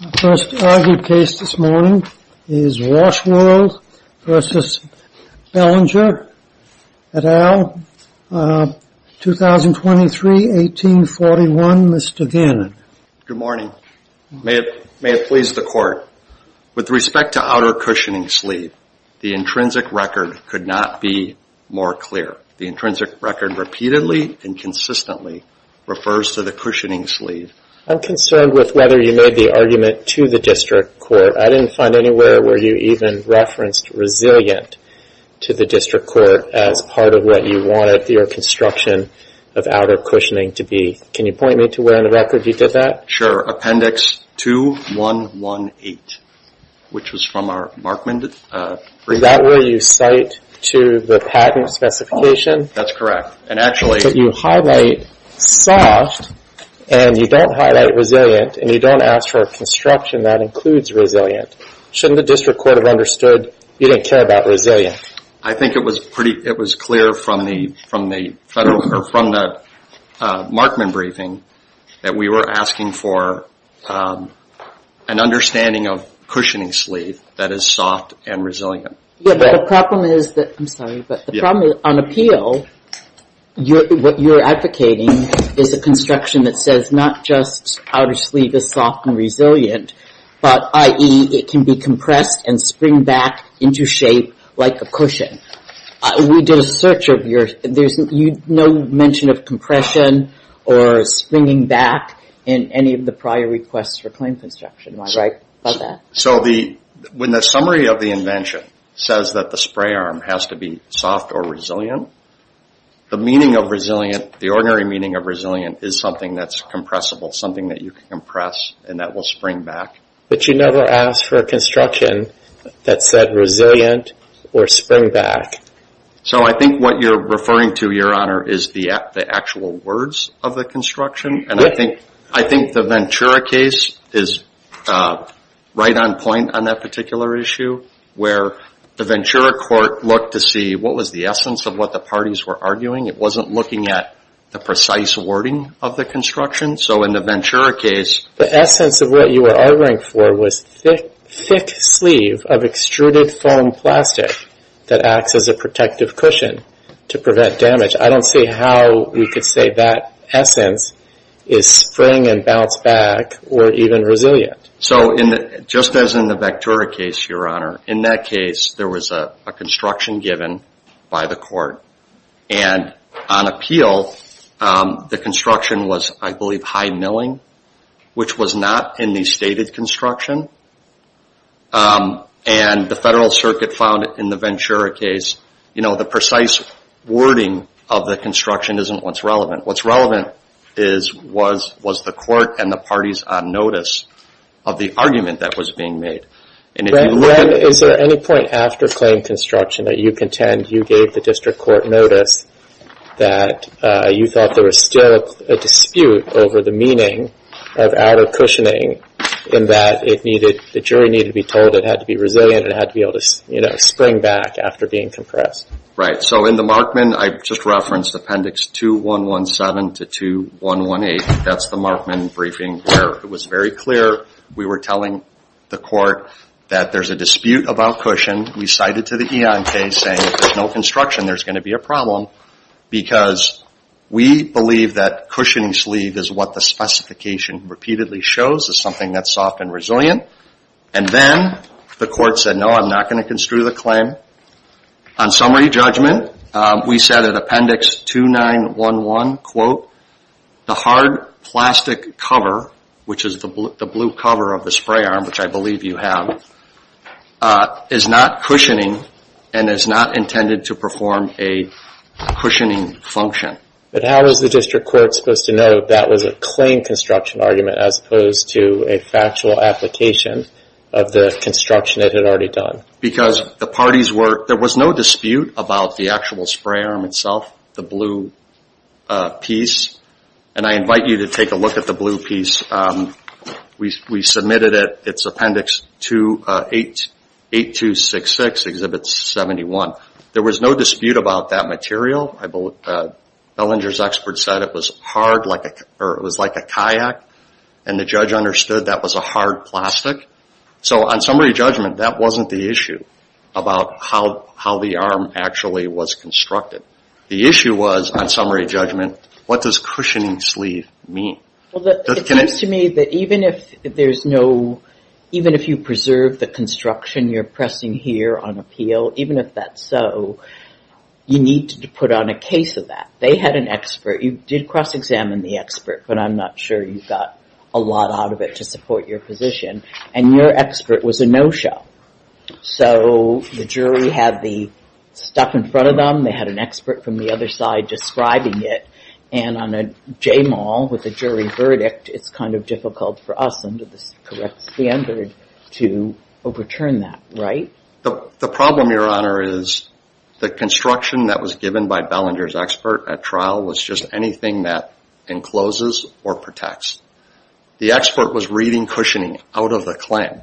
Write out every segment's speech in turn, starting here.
My first argued case this morning is Walsh World v. Belanger, et al., 2023-1841. Mr. Gannon. Good morning. May it please the Court. With respect to outer cushioning sleeve, the intrinsic record could not be more clear. The intrinsic record repeatedly and consistently refers to the cushioning sleeve. I'm concerned with whether you made the argument to the District Court. I didn't find anywhere where you even referenced resilient to the District Court as part of what you wanted your construction of outer cushioning to be. Can you point me to where in the record you did that? Sure. Appendix 2118, which was from our Markman brief. Is that where you cite to the patent specification? That's correct. You highlight soft and you don't highlight resilient and you don't ask for a construction that includes resilient. Shouldn't the District Court have understood you didn't care about resilient? I think it was clear from the Markman briefing that we were asking for an understanding of cushioning sleeve that is soft and resilient. The problem is on appeal, what you're advocating is a construction that says not just outer sleeve is soft and resilient, but i.e. it can be compressed and spring back into shape like a cushion. We did a search of yours. There's no mention of compression or springing back in any of the prior requests for claim construction. When the summary of the invention says that the spray arm has to be soft or resilient, the meaning of resilient, the ordinary meaning of resilient is something that's compressible, something that you can compress and that will spring back. But you never asked for a construction that said resilient or spring back. I think what you're referring to, Your Honor, is the actual words of the construction. I think the Ventura case is right on point on that particular issue, where the Ventura court looked to see what was the essence of what the parties were arguing. It wasn't looking at the precise wording of the construction. So in the Ventura case... The essence of what you were arguing for was thick sleeve of extruded foam plastic that acts as a protective cushion to prevent damage. I don't see how we could say that essence is spring and bounce back or even resilient. So just as in the Ventura case, Your Honor, in that case, there was a construction given by the court. And on appeal, the construction was, I believe, high milling, which was not in the stated construction. And the Federal Circuit found in the Ventura case, you know, the precise wording of the construction isn't what's relevant. What's relevant was the court and the parties on notice of the argument that was being made. And if you look at... Is there any point after claim construction that you contend you gave the district court notice that you thought there was still a dispute over the meaning of outer cushioning in that the jury needed to be told it had to be resilient and it had to be able to spring back after being compressed? Right. So in the Markman, I just referenced Appendix 2117 to 2118. That's the Markman briefing where it was very clear we were telling the court that there's a dispute about cushion. We cited to the Eon case saying if there's no construction, there's going to be a problem because we believe that cushioning sleeve is what the specification repeatedly shows, is something that's soft and resilient. And then the court said, no, I'm not going to construe the claim. On summary judgment, we said in Appendix 2911, quote, the hard plastic cover, which is the blue cover of the spray arm, which I believe you have, is not cushioning and is not intended to perform a cushioning function. But how was the district court supposed to know that was a claim construction argument as opposed to a factual application of the construction it had already done? Because there was no dispute about the actual spray arm itself, the blue piece. And I invite you to take a look at the blue piece. We submitted it. It's Appendix 8266, Exhibit 71. There was no dispute about that material. Bellinger's expert said it was like a kayak, and the judge understood that was a hard plastic. So on summary judgment, that wasn't the issue about how the arm actually was constructed. The issue was, on summary judgment, what does cushioning sleeve mean? It seems to me that even if you preserve the construction you're pressing here on appeal, even if that's so, you need to put on a case of that. They had an expert. You did cross-examine the expert, but I'm not sure you got a lot out of it to support your position. And your expert was a no-show. So the jury had the stuff in front of them. They had an expert from the other side describing it. And on a JMAL with a jury verdict, it's kind of difficult for us under the correct standard to overturn that, right? The problem, Your Honor, is the construction that was given by Bellinger's expert at trial was just anything that encloses or protects. The expert was reading cushioning out of the claim.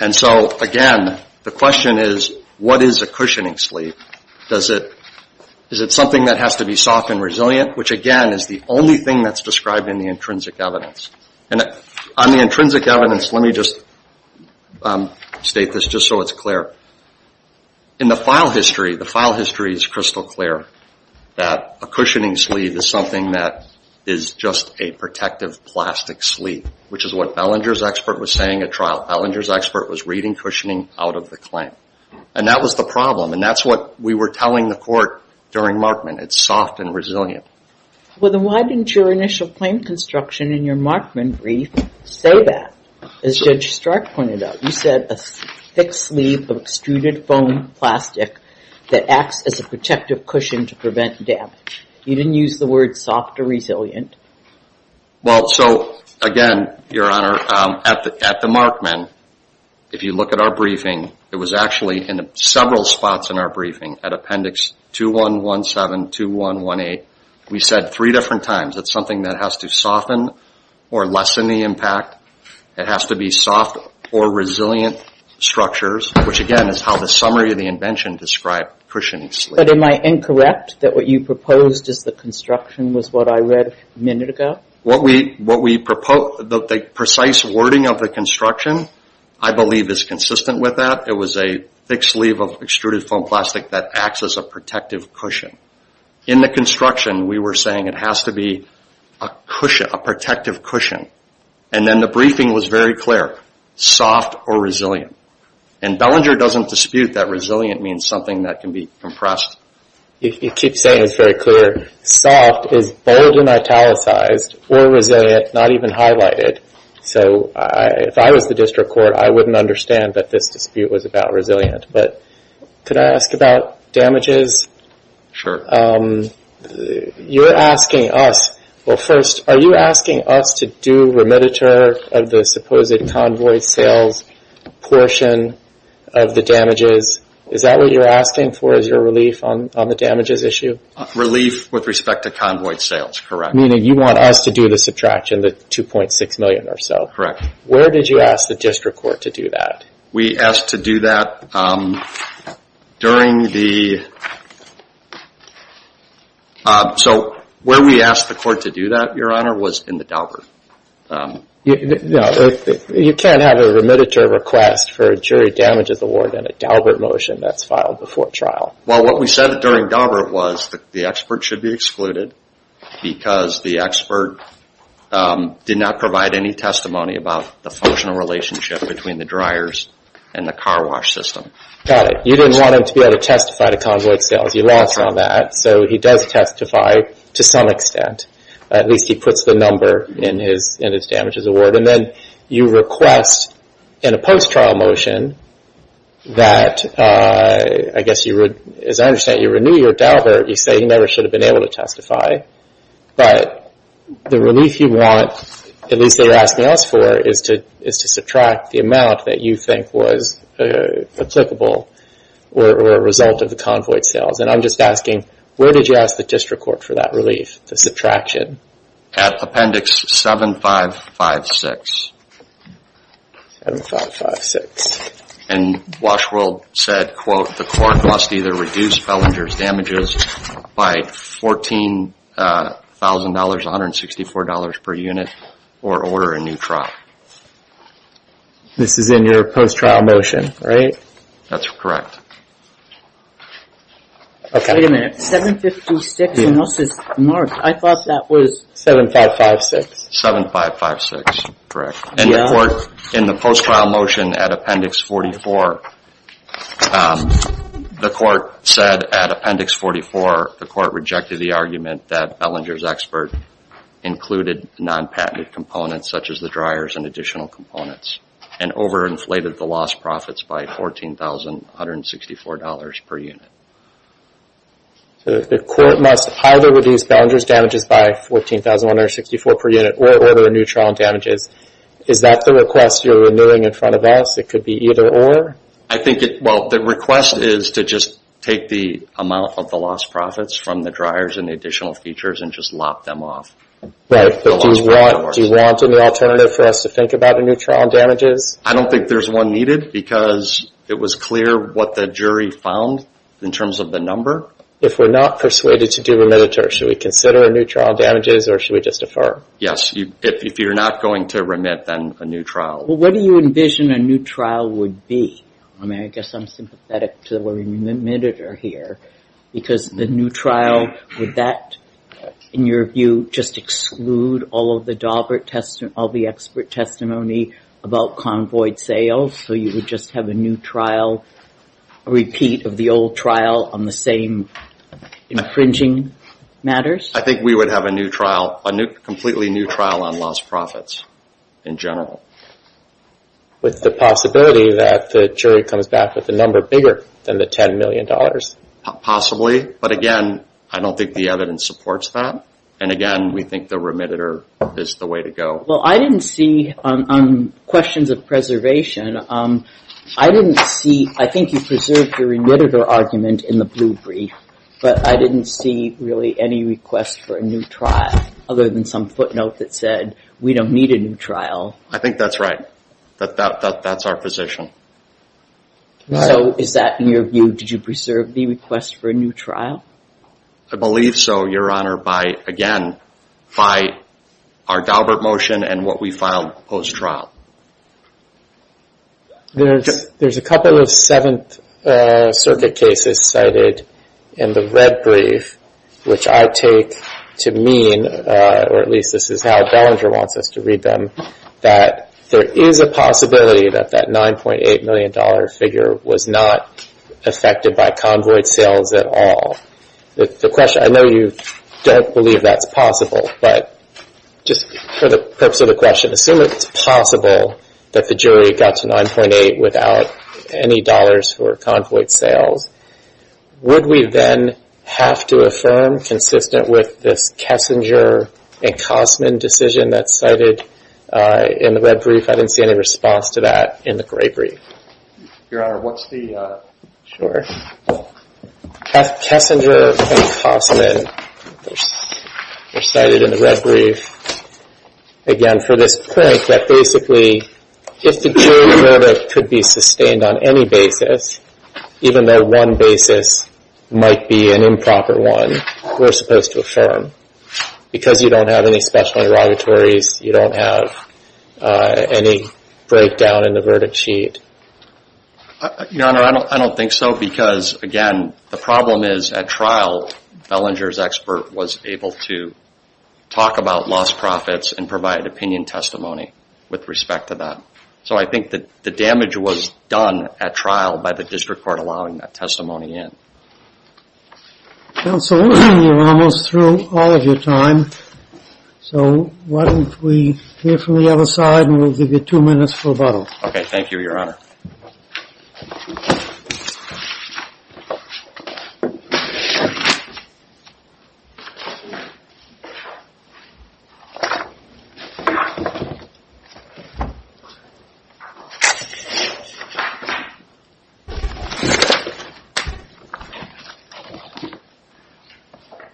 And so, again, the question is, what is a cushioning sleeve? Is it something that has to be soft and resilient, which, again, is the only thing that's described in the intrinsic evidence. On the intrinsic evidence, let me just state this just so it's clear. In the file history, the file history is crystal clear that a cushioning sleeve is something that is just a protective plastic sleeve, which is what Bellinger's expert was saying at trial. Bellinger's expert was reading cushioning out of the claim. And that was the problem, and that's what we were telling the court during Markman. It's soft and resilient. Well, then why didn't your initial claim construction in your Markman brief say that, as Judge Stark pointed out? You said a thick sleeve of extruded foam plastic that acts as a protective cushion to prevent damage. You didn't use the word soft or resilient. Well, so, again, Your Honor, at the Markman, if you look at our briefing, it was actually in several spots in our briefing at Appendix 2117, 2118. We said three different times it's something that has to soften or lessen the impact. It has to be soft or resilient structures, which, again, is how the summary of the invention described cushioning sleeve. But am I incorrect that what you proposed as the construction was what I read a minute ago? The precise wording of the construction, I believe, is consistent with that. It was a thick sleeve of extruded foam plastic that acts as a protective cushion. In the construction, we were saying it has to be a protective cushion. And then the briefing was very clear, soft or resilient. And Bellinger doesn't dispute that resilient means something that can be compressed. You keep saying it's very clear. Soft is bold and italicized, or resilient, not even highlighted. So if I was the district court, I wouldn't understand that this dispute was about resilient. But could I ask about damages? Sure. You're asking us. Well, first, are you asking us to do remediator of the supposed convoy sales portion of the damages? Is that what you're asking for, is your relief on the damages issue? Relief with respect to convoy sales, correct. Meaning you want us to do the subtraction, the $2.6 million or so. Correct. Where did you ask the district court to do that? We asked to do that during the... So where we asked the court to do that, Your Honor, was in the Daubert. You can't have a remediator request for a jury damages award in a Daubert motion that's filed before trial. Well, what we said during Daubert was the expert should be excluded because the expert did not provide any testimony about the functional relationship between the dryers and the car wash system. Got it. You didn't want him to be able to testify to convoy sales. You lost on that. So he does testify to some extent. At least he puts the number in his damages award. And then you request in a post-trial motion that, I guess, as I understand it, when you renew your Daubert, you say he never should have been able to testify. But the relief you want, at least they were asking us for, is to subtract the amount that you think was applicable or a result of the convoy sales. And I'm just asking, where did you ask the district court for that relief, the subtraction? At appendix 7556. 7556. And Washworld said, quote, the court must either reduce Bellinger's damages by $14,000, $164 per unit, or order a new trial. This is in your post-trial motion, right? That's correct. Wait a minute, 7556 and this is marked. I thought that was 7556. 7556, correct. And the court in the post-trial motion at appendix 44, the court said at appendix 44, the court rejected the argument that Bellinger's expert included non-patented components, such as the dryers and additional components, and over-inflated the lost profits by $14,164 per unit. So the court must either reduce Bellinger's damages by $14,164 per unit, or order a new trial on damages. Is that the request you're renewing in front of us? It could be either or? Well, the request is to just take the amount of the lost profits from the dryers and the additional features and just lop them off. Right, but do you want an alternative for us to think about a new trial on damages? I don't think there's one needed, because it was clear what the jury found in terms of the number. If we're not persuaded to do remittiture, should we consider a new trial on damages or should we just defer? Yes, if you're not going to remit, then a new trial. Well, what do you envision a new trial would be? I mean, I guess I'm sympathetic to the word remittiture here, because the new trial, would that, in your view, just exclude all of the expert testimony about convoyed sales, so you would just have a new trial, a repeat of the old trial on the same infringing matters? I think we would have a new trial, a completely new trial on lost profits in general. With the possibility that the jury comes back with a number bigger than the $10 million? Possibly, but again, I don't think the evidence supports that. And again, we think the remittiture is the way to go. Well, I didn't see, on questions of preservation, I didn't see, I think you preserved your remittiture argument in the blue brief, but I didn't see really any request for a new trial, other than some footnote that said, we don't need a new trial. I think that's right. That's our position. So is that, in your view, did you preserve the request for a new trial? I believe so, Your Honor, by, again, by our Daubert motion and what we filed post-trial. There's a couple of Seventh Circuit cases cited in the red brief, which I take to mean, or at least this is how Bellinger wants us to read them, that there is a possibility that that $9.8 million figure was not affected by convoy sales at all. The question, I know you don't believe that's possible, but just for the purpose of the question, assume it's possible that the jury got to $9.8 without any dollars for convoy sales. Would we then have to affirm, consistent with this Kessinger and Cosman decision that's cited in the red brief? I didn't see any response to that in the gray brief. Your Honor, what's the… Kessinger and Cosman were cited in the red brief, again, for this point, that basically if the jury verdict could be sustained on any basis, even though one basis might be an improper one, we're supposed to affirm. Because you don't have any special interrogatories, you don't have any breakdown in the verdict sheet. Your Honor, I don't think so because, again, the problem is at trial, Bellinger's expert was able to talk about lost profits and provide opinion testimony with respect to that. So I think that the damage was done at trial by the district court allowing that testimony in. Counsel, we're almost through all of your time, so why don't we hear from the other side and we'll give you two minutes for rebuttal. Okay, thank you, Your Honor.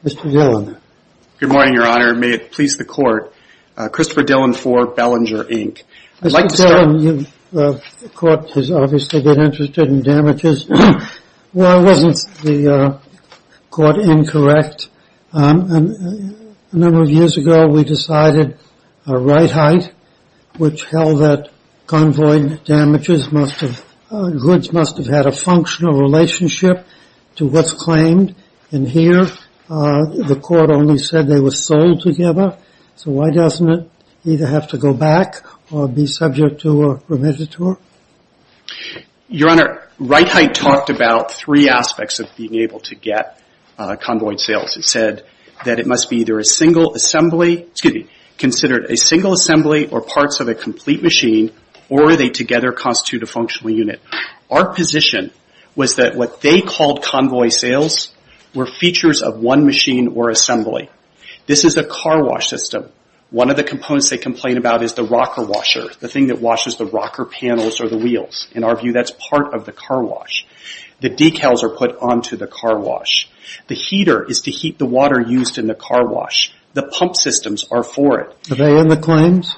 Mr. Dillon. Good morning, Your Honor. May it please the Court. Christopher Dillon for Bellinger, Inc. Mr. Dillon, the Court has obviously been interested in damages. Why wasn't the Court incorrect? A number of years ago, we decided a right height, which held that convoy damages must have, goods must have had a functional relationship to what's claimed. And here, the Court only said they were sold together. So why doesn't it either have to go back or be subject to a remediator? Your Honor, right height talked about three aspects of being able to get convoy sales. It said that it must be either a single assembly, excuse me, considered a single assembly or parts of a complete machine, or they together constitute a functional unit. Our position was that what they called convoy sales were features of one machine or assembly. This is a car wash system. One of the components they complain about is the rocker washer, the thing that washes the rocker panels or the wheels. In our view, that's part of the car wash. The decals are put onto the car wash. The heater is to heat the water used in the car wash. The pump systems are for it. Are they in the claims?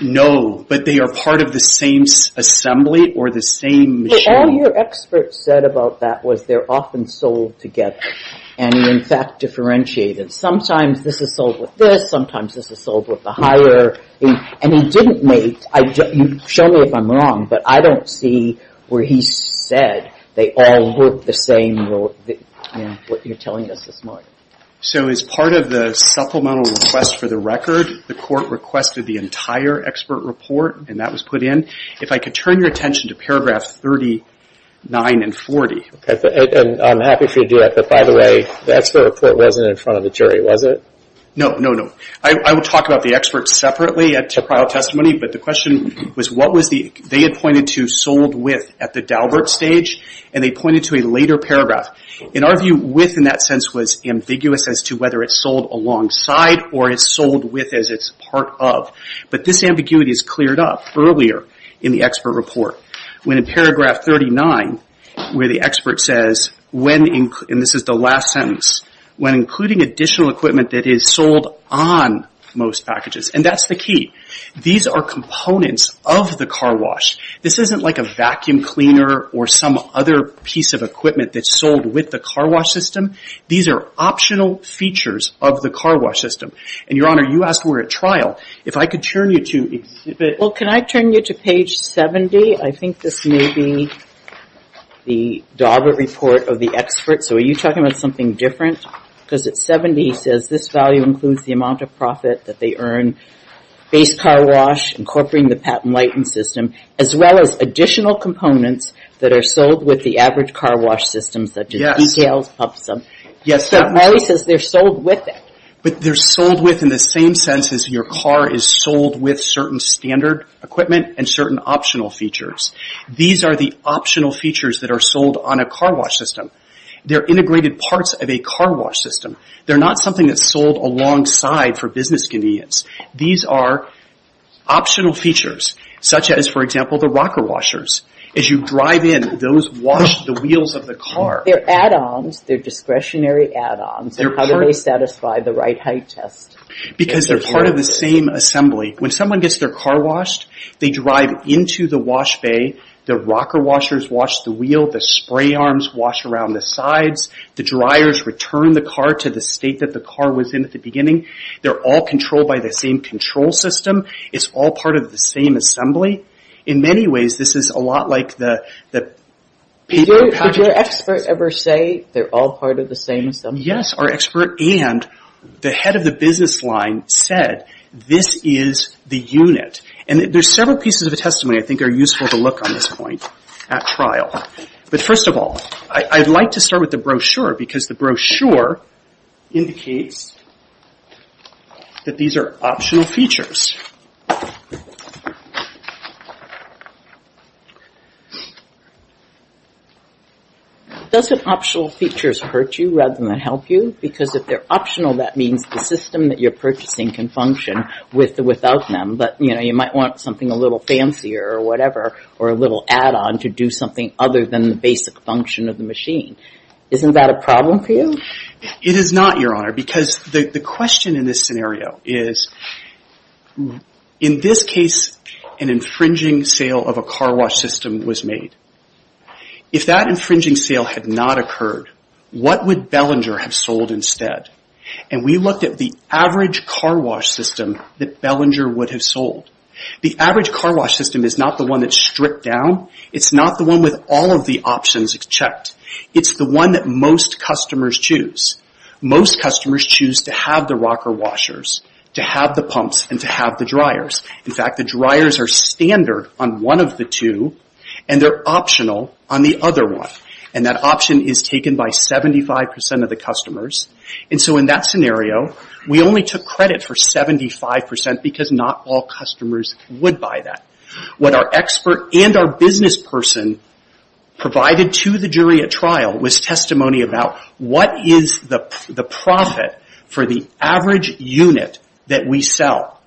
No, but they are part of the same assembly or the same machine. All your experts said about that was they're often sold together, and, in fact, differentiated. Sometimes this is sold with this. Sometimes this is sold with the higher. And he didn't make, show me if I'm wrong, but I don't see where he said they all look the same in what you're telling us this morning. So as part of the supplemental request for the record, the court requested the entire expert report, and that was put in. If I could turn your attention to paragraph 39 and 40. I'm happy for you to do that, but, by the way, the expert report wasn't in front of the jury, was it? No, no, no. I will talk about the experts separately at trial testimony, but the question was what was the, they had pointed to sold with at the Daubert stage, and they pointed to a later paragraph. In our view, with in that sense was ambiguous as to whether it's sold alongside or it's sold with as it's part of. But this ambiguity is cleared up earlier in the expert report. When in paragraph 39, where the expert says when, and this is the last sentence, when including additional equipment that is sold on most packages. And that's the key. These are components of the car wash. This isn't like a vacuum cleaner or some other piece of equipment that's sold with the car wash system. These are optional features of the car wash system. And, Your Honor, you asked where at trial. If I could turn you to exhibit. Well, can I turn you to page 70? I think this may be the Daubert report of the expert. So are you talking about something different? Because at 70, he says this value includes the amount of profit that they earn, base car wash, incorporating the patent license system, as well as additional components that are sold with the average car wash system, such as decals, pumps. Yes. But Molly says they're sold with it. But they're sold with in the same sense as your car is sold with certain standard equipment and certain optional features. These are the optional features that are sold on a car wash system. They're integrated parts of a car wash system. They're not something that's sold alongside for business convenience. These are optional features, such as, for example, the rocker washers. As you drive in, those wash the wheels of the car. They're add-ons. They're discretionary add-ons. And how do they satisfy the right height test? Because they're part of the same assembly. When someone gets their car washed, they drive into the wash bay. The rocker washers wash the wheel. The spray arms wash around the sides. The dryers return the car to the state that the car was in at the beginning. They're all controlled by the same control system. It's all part of the same assembly. In many ways, this is a lot like the paper package. Did your expert ever say they're all part of the same assembly? Yes, our expert and the head of the business line said, this is the unit. And there's several pieces of the testimony I think are useful to look on at this point at trial. But first of all, I'd like to start with the brochure, because the brochure indicates that these are optional features. Doesn't optional features hurt you rather than help you? Because if they're optional, that means the system that you're purchasing can function without them. But, you know, you might want something a little fancier or whatever, or a little add-on to do something other than the basic function of the machine. Isn't that a problem for you? It is not, Your Honor, because the question in this scenario is, in this case, an infringing sale of a car wash system was made. If that infringing sale had not occurred, what would Bellinger have sold instead? And we looked at the average car wash system that Bellinger would have sold. The average car wash system is not the one that's stripped down. It's not the one with all of the options checked. It's the one that most customers choose. Most customers choose to have the rocker washers, to have the pumps, and to have the dryers. In fact, the dryers are standard on one of the two, and they're optional on the other one. And that option is taken by 75% of the customers. And so in that scenario, we only took credit for 75% because not all customers would buy that. What our expert and our business person provided to the jury at trial was testimony about what is the profit for the average unit that we sell.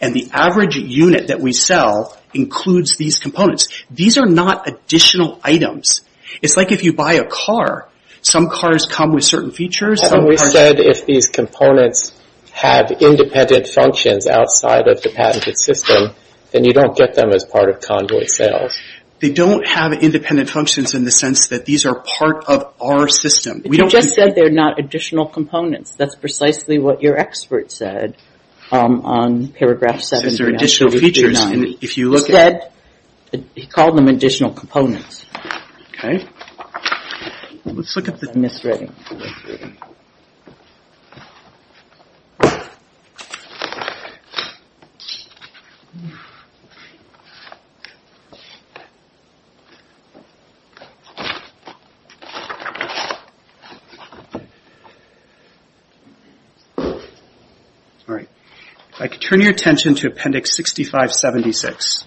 And the average unit that we sell includes these components. These are not additional items. It's like if you buy a car. Some cars come with certain features. We said if these components had independent functions outside of the patented system, then you don't get them as part of convoy sales. They don't have independent functions in the sense that these are part of our system. You just said they're not additional components. That's precisely what your expert said on paragraph 7. These are additional features. Instead, he called them additional components. Okay. Let's look at the misreading. All right. If I could turn your attention to Appendix 6576.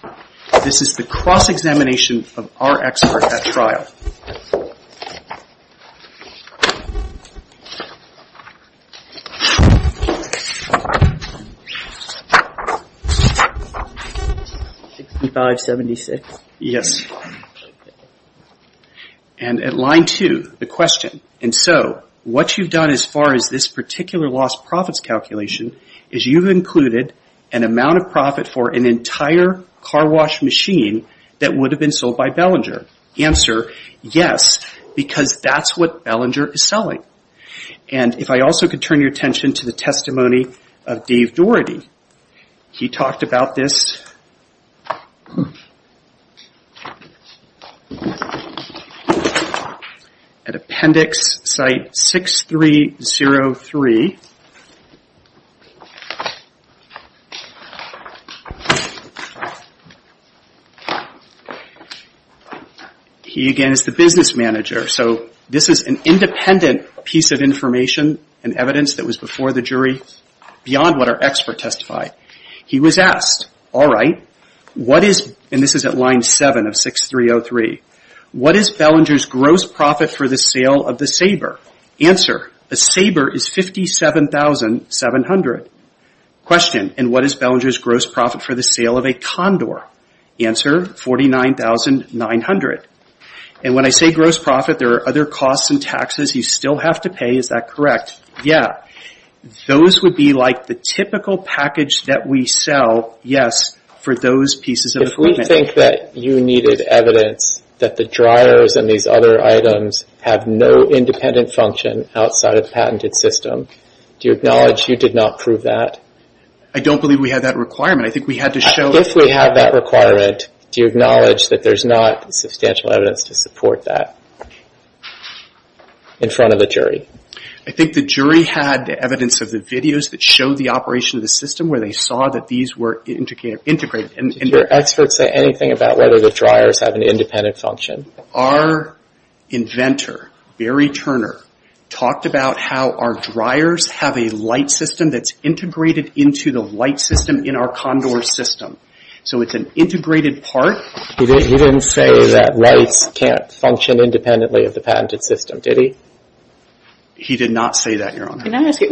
This is the cross-examination of our expert at trial. 6576? Yes. And at line 2, the question, and so what you've done as far as this particular lost profits calculation is you've included an amount of profit for an entire car wash machine that would have been sold by Bellinger. Answer, yes, because that's what Bellinger is selling. And if I also could turn your attention to the testimony of Dave Doherty. He talked about this at Appendix Site 6303. He, again, is the business manager. So this is an independent piece of information and evidence that was before the jury beyond what our expert testified. He was asked, all right, what is, and this is at line 7 of 6303, what is Bellinger's gross profit for the sale of the Sabre? Answer, a Sabre is $57,700. Question, and what is Bellinger's gross profit for the sale of a Condor? Answer, $49,900. And when I say gross profit, there are other costs and taxes you still have to pay. Is that correct? Yeah. Those would be like the typical package that we sell, yes, for those pieces of equipment. I think that you needed evidence that the dryers and these other items have no independent function outside of the patented system. Do you acknowledge you did not prove that? I don't believe we had that requirement. I think we had to show. If we have that requirement, do you acknowledge that there's not substantial evidence to support that in front of the jury? I think the jury had evidence of the videos that showed the operation of the system where they saw that these were integrated. Did your experts say anything about whether the dryers have an independent function? Our inventor, Barry Turner, talked about how our dryers have a light system that's integrated into the light system in our Condor system. So it's an integrated part. He didn't say that lights can't function independently of the patented system, did he? He did not say that, Your Honor. Can I ask you,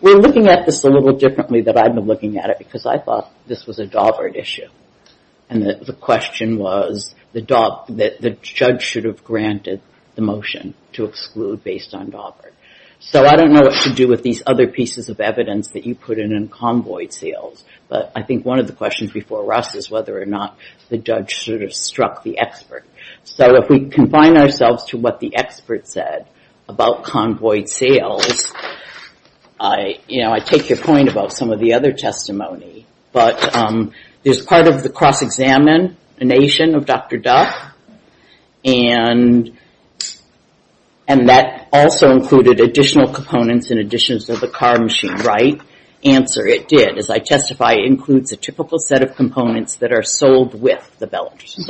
we're looking at this a little differently than I've been looking at it because I thought this was a Daubert issue, and the question was that the judge should have granted the motion to exclude based on Daubert. So I don't know what to do with these other pieces of evidence that you put in on convoyed sales, but I think one of the questions before us is whether or not the judge should have struck the expert. So if we confine ourselves to what the expert said about convoyed sales, I take your point about some of the other testimony, but there's part of the cross-examination of Dr. Duff, and that also included additional components in addition to the car machine, right? Answer, it did. As I testify, it includes a typical set of components that are sold with the Bellagio.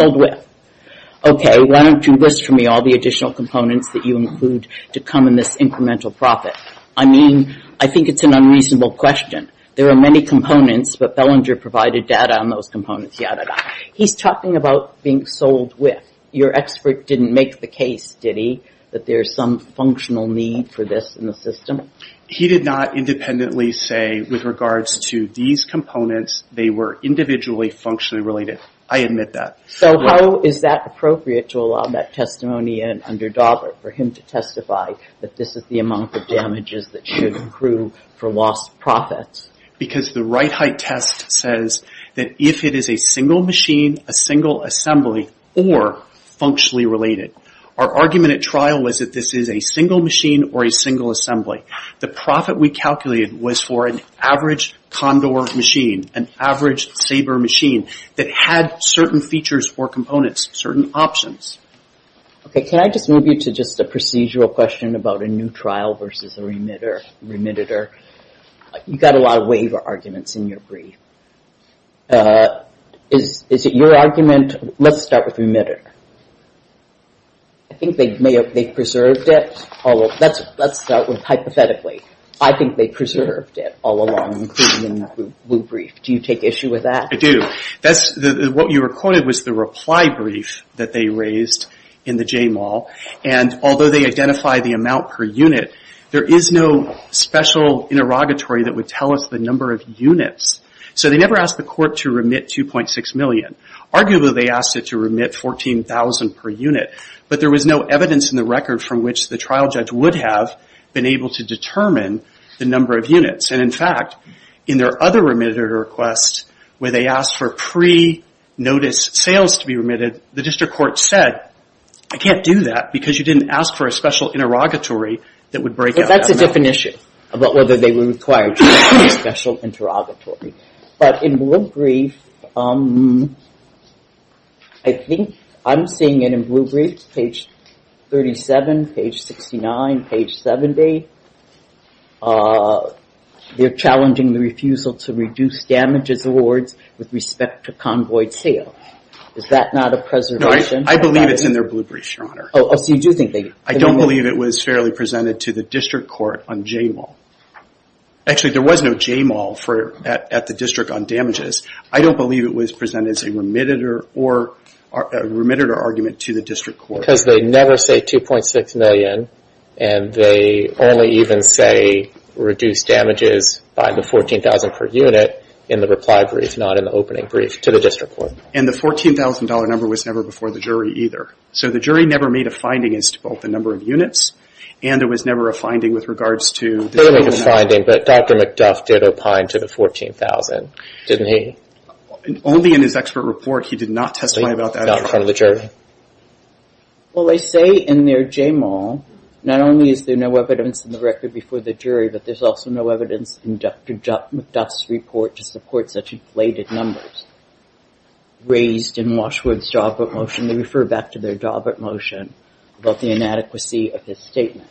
Okay, why don't you list for me all the additional components that you include to come in this incremental profit? I mean, I think it's an unreasonable question. There are many components, but Bellinger provided data on those components, yada, yada. He's talking about being sold with. Your expert didn't make the case, did he, that there's some functional need for this in the system? He did not independently say, with regards to these components, they were individually functionally related. I admit that. So how is that appropriate to allow that testimony in under Daubert, for him to testify that this is the amount of damages that should accrue for lost profits? Because the right height test says that if it is a single machine, a single assembly, or functionally related. Our argument at trial was that this is a single machine or a single assembly. The profit we calculated was for an average Condor machine, an average Sabre machine that had certain features or components, certain options. Okay, can I just move you to just a procedural question about a new trial versus a remitter? You've got a lot of waiver arguments in your brief. Is it your argument, let's start with remitter. I think they preserved it. Let's start with hypothetically. I think they preserved it all along, including in that Wu brief. Do you take issue with that? I do. What you recorded was the reply brief that they raised in the J-Mall, and although they identified the amount per unit, there is no special interrogatory that would tell us the number of units. So they never asked the court to remit $2.6 million. Arguably, they asked it to remit $14,000 per unit, but there was no evidence in the record from which the trial judge would have been able to determine the number of units. And, in fact, in their other remitted request where they asked for pre-notice sales to be remitted, the district court said, I can't do that because you didn't ask for a special interrogatory that would break out. But that's a different issue about whether they were required to do a special interrogatory. But in Wu brief, I think I'm seeing it in Wu brief, page 37, page 69, page 70. They're challenging the refusal to reduce damages awards with respect to convoyed sales. Is that not a preservation? No, I believe it's in their Wu brief, Your Honor. Oh, so you do think they did? I don't believe it was fairly presented to the district court on J-Mall. Actually, there was no J-Mall at the district on damages. I don't believe it was presented as a remitted or argument to the district court. Because they never say $2.6 million, and they only even say reduce damages by the $14,000 per unit in the reply brief, not in the opening brief, to the district court. And the $14,000 number was never before the jury either. So the jury never made a finding as to both the number of units, and there was never a finding with regards to the total amount. They didn't make a finding, but Dr. McDuff did opine to the $14,000, didn't he? Only in his expert report, he did not testify about that in front of the jury. Well, they say in their J-Mall, not only is there no evidence in the record before the jury, but there's also no evidence in Dr. McDuff's report to support such inflated numbers. Raised in Washwood's job at motion, they refer back to their job at motion about the inadequacy of his statement.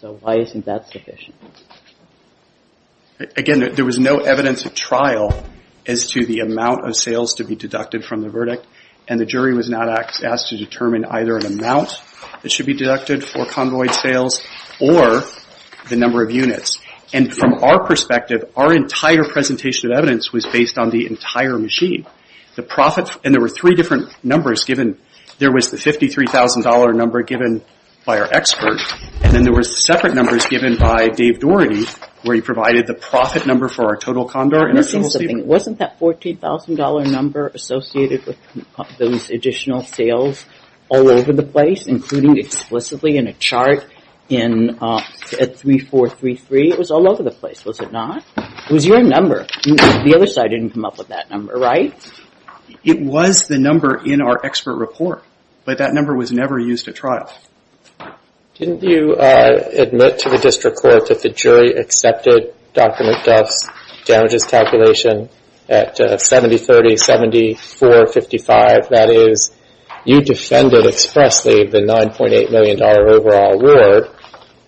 So why isn't that sufficient? Again, there was no evidence at trial as to the amount of sales to be deducted from the verdict, and the jury was not asked to determine either an amount that should be deducted for convoyed sales or the number of units. And from our perspective, our entire presentation of evidence was based on the entire machine. The profit, and there were three different numbers given. There was the $53,000 number given by our expert, and then there were separate numbers given by Dave Doherty, where he provided the profit number for our total condor. Wasn't that $14,000 number associated with those additional sales all over the place, including explicitly in a chart at 3433? It was all over the place, was it not? It was your number. The other side didn't come up with that number, right? It was the number in our expert report, but that number was never used at trial. Didn't you admit to the district court that the jury accepted Dr. McDuff's damages calculation at 7030, 7455? That is, you defended expressly the $9.8 million overall reward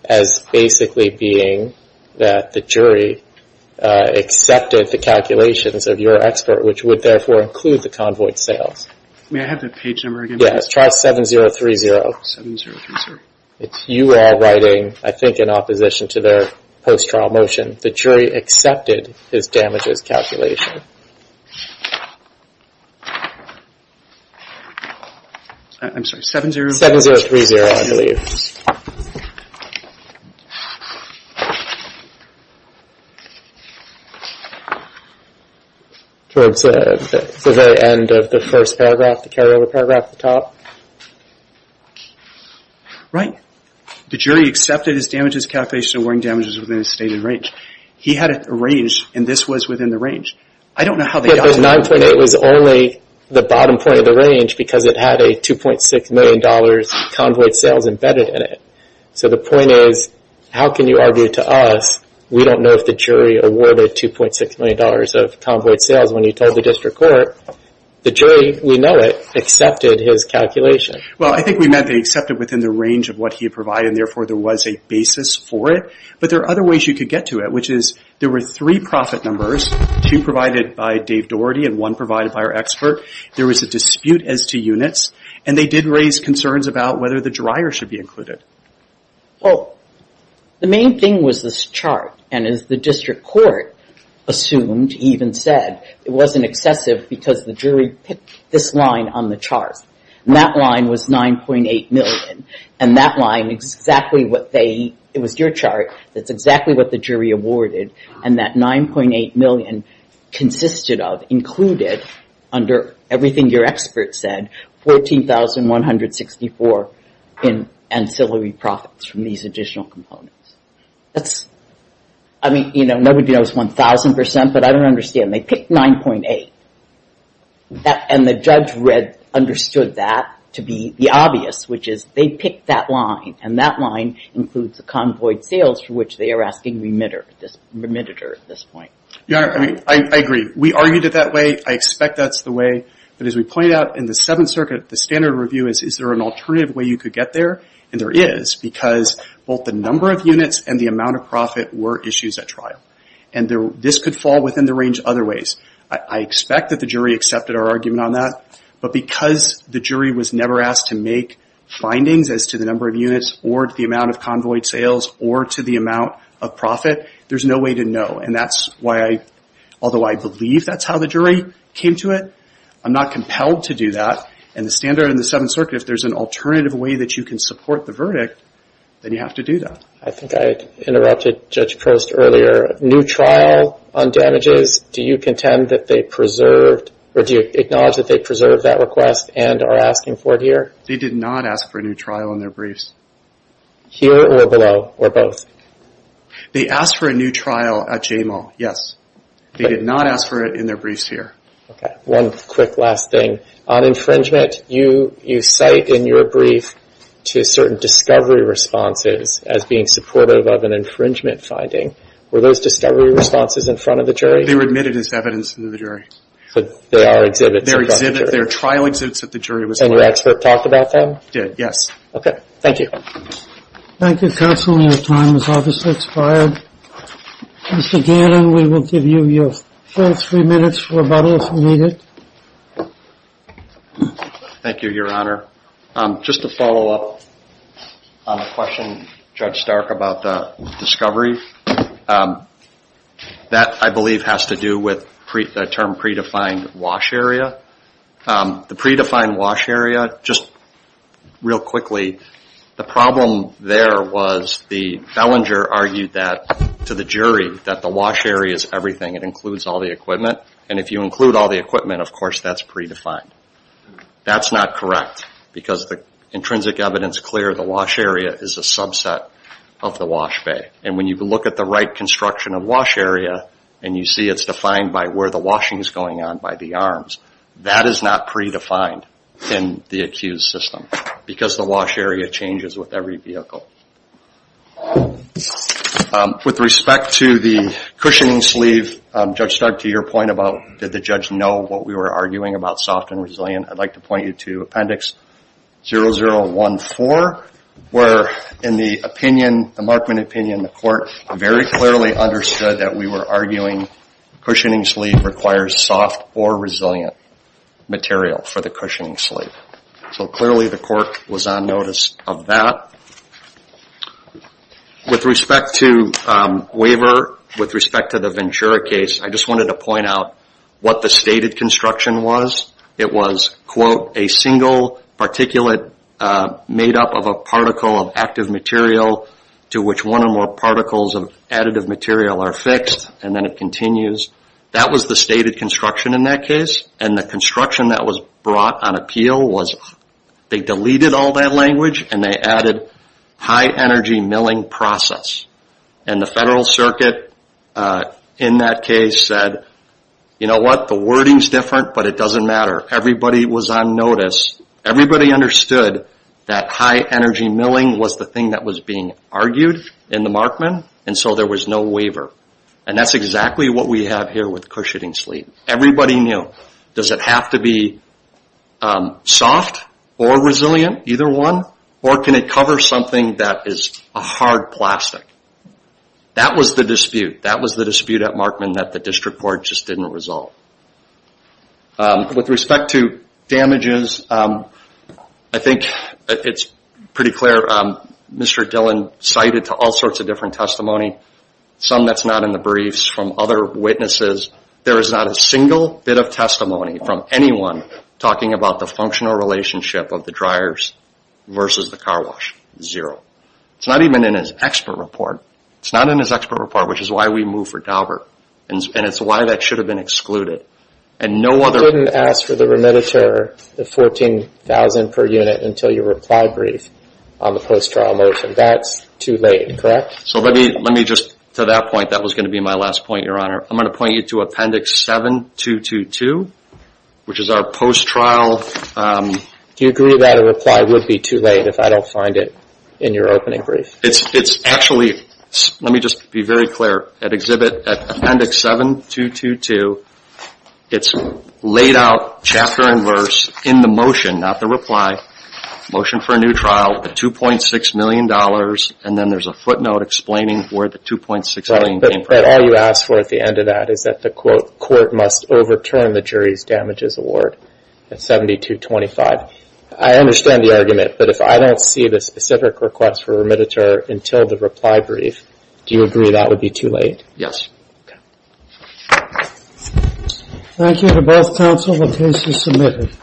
as basically being that the jury accepted the calculations of your expert, which would therefore include the convoyed sales. May I have that page number again, please? Yes. Trial 7030. 7030. You are writing, I think in opposition to their post-trial motion, the jury accepted his damages calculation. I'm sorry, 7030. 7030, I believe. Towards the very end of the first paragraph, the carryover paragraph at the top. Right. The jury accepted his damages calculation, awarding damages within a stated range. He had a range, and this was within the range. I don't know how they got it. But the 9.8 was only the bottom point of the range because it had a $2.6 million convoyed sales embedded in it. So the point is, how can you argue to us, we don't know if the jury awarded $2.6 million of convoyed sales when you told the district court. The jury, we know it, accepted his calculation. Well, I think we meant they accepted within the range of what he had provided, and therefore there was a basis for it. But there are other ways you could get to it, which is there were three profit numbers, two provided by Dave Doherty and one provided by our expert. There was a dispute as to units, and they did raise concerns about whether the dryer should be included. Well, the main thing was this chart, and as the district court assumed, even said, it wasn't excessive because the jury picked this line on the chart. And that line was 9.8 million, and that line is exactly what they, it was your chart, that's exactly what the jury awarded, and that 9.8 million consisted of, included, under everything your expert said, 14,164 in ancillary profits from these additional components. That's, I mean, you know, nobody knows 1,000 percent, but I don't understand. They picked 9.8, and the judge read, understood that to be the obvious, which is they picked that line, and that line includes the convoyed sales for which they are asking remitter, remitter at this point. Your Honor, I mean, I agree. We argued it that way. I expect that's the way, but as we pointed out in the Seventh Circuit, the standard review is, is there an alternative way you could get there? And there is, because both the number of units and the amount of profit were issues at trial. And this could fall within the range other ways. I expect that the jury accepted our argument on that, but because the jury was never asked to make findings as to the number of units or to the amount of convoyed sales or to the amount of profit, there's no way to know. And that's why I, although I believe that's how the jury came to it, I'm not compelled to do that. And the standard in the Seventh Circuit, if there's an alternative way that you can support the verdict, then you have to do that. I think I interrupted Judge Post earlier. New trial on damages, do you contend that they preserved or do you acknowledge that they preserved that request and are asking for it here? They did not ask for a new trial in their briefs. Here or below or both? They asked for a new trial at J-Mall, yes. They did not ask for it in their briefs here. Okay. One quick last thing. On infringement, you cite in your brief to certain discovery responses as being supportive of an infringement finding. Were those discovery responses in front of the jury? They were admitted as evidence to the jury. But they are exhibits. They're exhibits. They're trial exhibits that the jury was collecting. And your expert talked about them? Did, yes. Okay. Thank you. Thank you, counsel. Your time has obviously expired. Mr. Gannon, we will give you your full three minutes for rebuttal if needed. Thank you, Your Honor. Just to follow up on a question Judge Stark about the discovery, that I believe has to do with the term predefined wash area. The predefined wash area, just real quickly, the problem there was the fellinger argued that to the jury that the wash area is everything. It includes all the equipment. And if you include all the equipment, of course, that's predefined. That's not correct because the intrinsic evidence is clear. The wash area is a subset of the wash bay. And when you look at the right construction of wash area, and you see it's defined by where the washing is going on by the arms, that is not predefined in the accused system because the wash area changes with every vehicle. With respect to the cushioning sleeve, Judge Stark, to your point about did the judge know what we were arguing about soft and resilient, I'd like to point you to Appendix 0014 where in the opinion, the Markman opinion, the court very clearly understood that we were arguing cushioning sleeve requires soft or resilient material for the cushioning sleeve. So clearly the court was on notice of that. With respect to waiver, with respect to the Ventura case, I just wanted to point out what the stated construction was. It was, quote, a single particulate made up of a particle of active material to which one or more particles of additive material are fixed, and then it continues. That was the stated construction in that case. And the construction that was brought on appeal was they deleted all that language and they added high-energy milling process. And the Federal Circuit in that case said, you know what, the wording's different but it doesn't matter. Everybody was on notice. Everybody understood that high-energy milling was the thing that was being argued in the Markman, and so there was no waiver. And that's exactly what we have here with cushioning sleeve. Everybody knew. Does it have to be soft or resilient, either one, or can it cover something that is a hard plastic? That was the dispute. That was the dispute at Markman that the district court just didn't resolve. With respect to damages, I think it's pretty clear. Mr. Dillon cited all sorts of different testimony, some that's not in the briefs from other witnesses. There is not a single bit of testimony from anyone talking about the functional relationship of the dryers versus the car wash. It's not even in his expert report. It's not in his expert report, which is why we moved for Daubert, and it's why that should have been excluded. You couldn't ask for the remediator, the $14,000 per unit, until your reply brief on the post-trial motion. That's too late, correct? So let me just, to that point, that was going to be my last point, Your Honor. I'm going to point you to Appendix 7222, which is our post-trial... Do you agree that a reply would be too late if I don't find it in your opening brief? It's actually, let me just be very clear. At Appendix 7222, it's laid out, chapter and verse, in the motion, not the reply, motion for a new trial, the $2.6 million, and then there's a footnote explaining where the $2.6 million came from. And then all you ask for at the end of that is that the, quote, court must overturn the jury's damages award at 7225. I understand the argument, but if I don't see the specific request for a remediator until the reply brief, do you agree that would be too late? Yes. Okay. Thank you to both counsel. The case is submitted.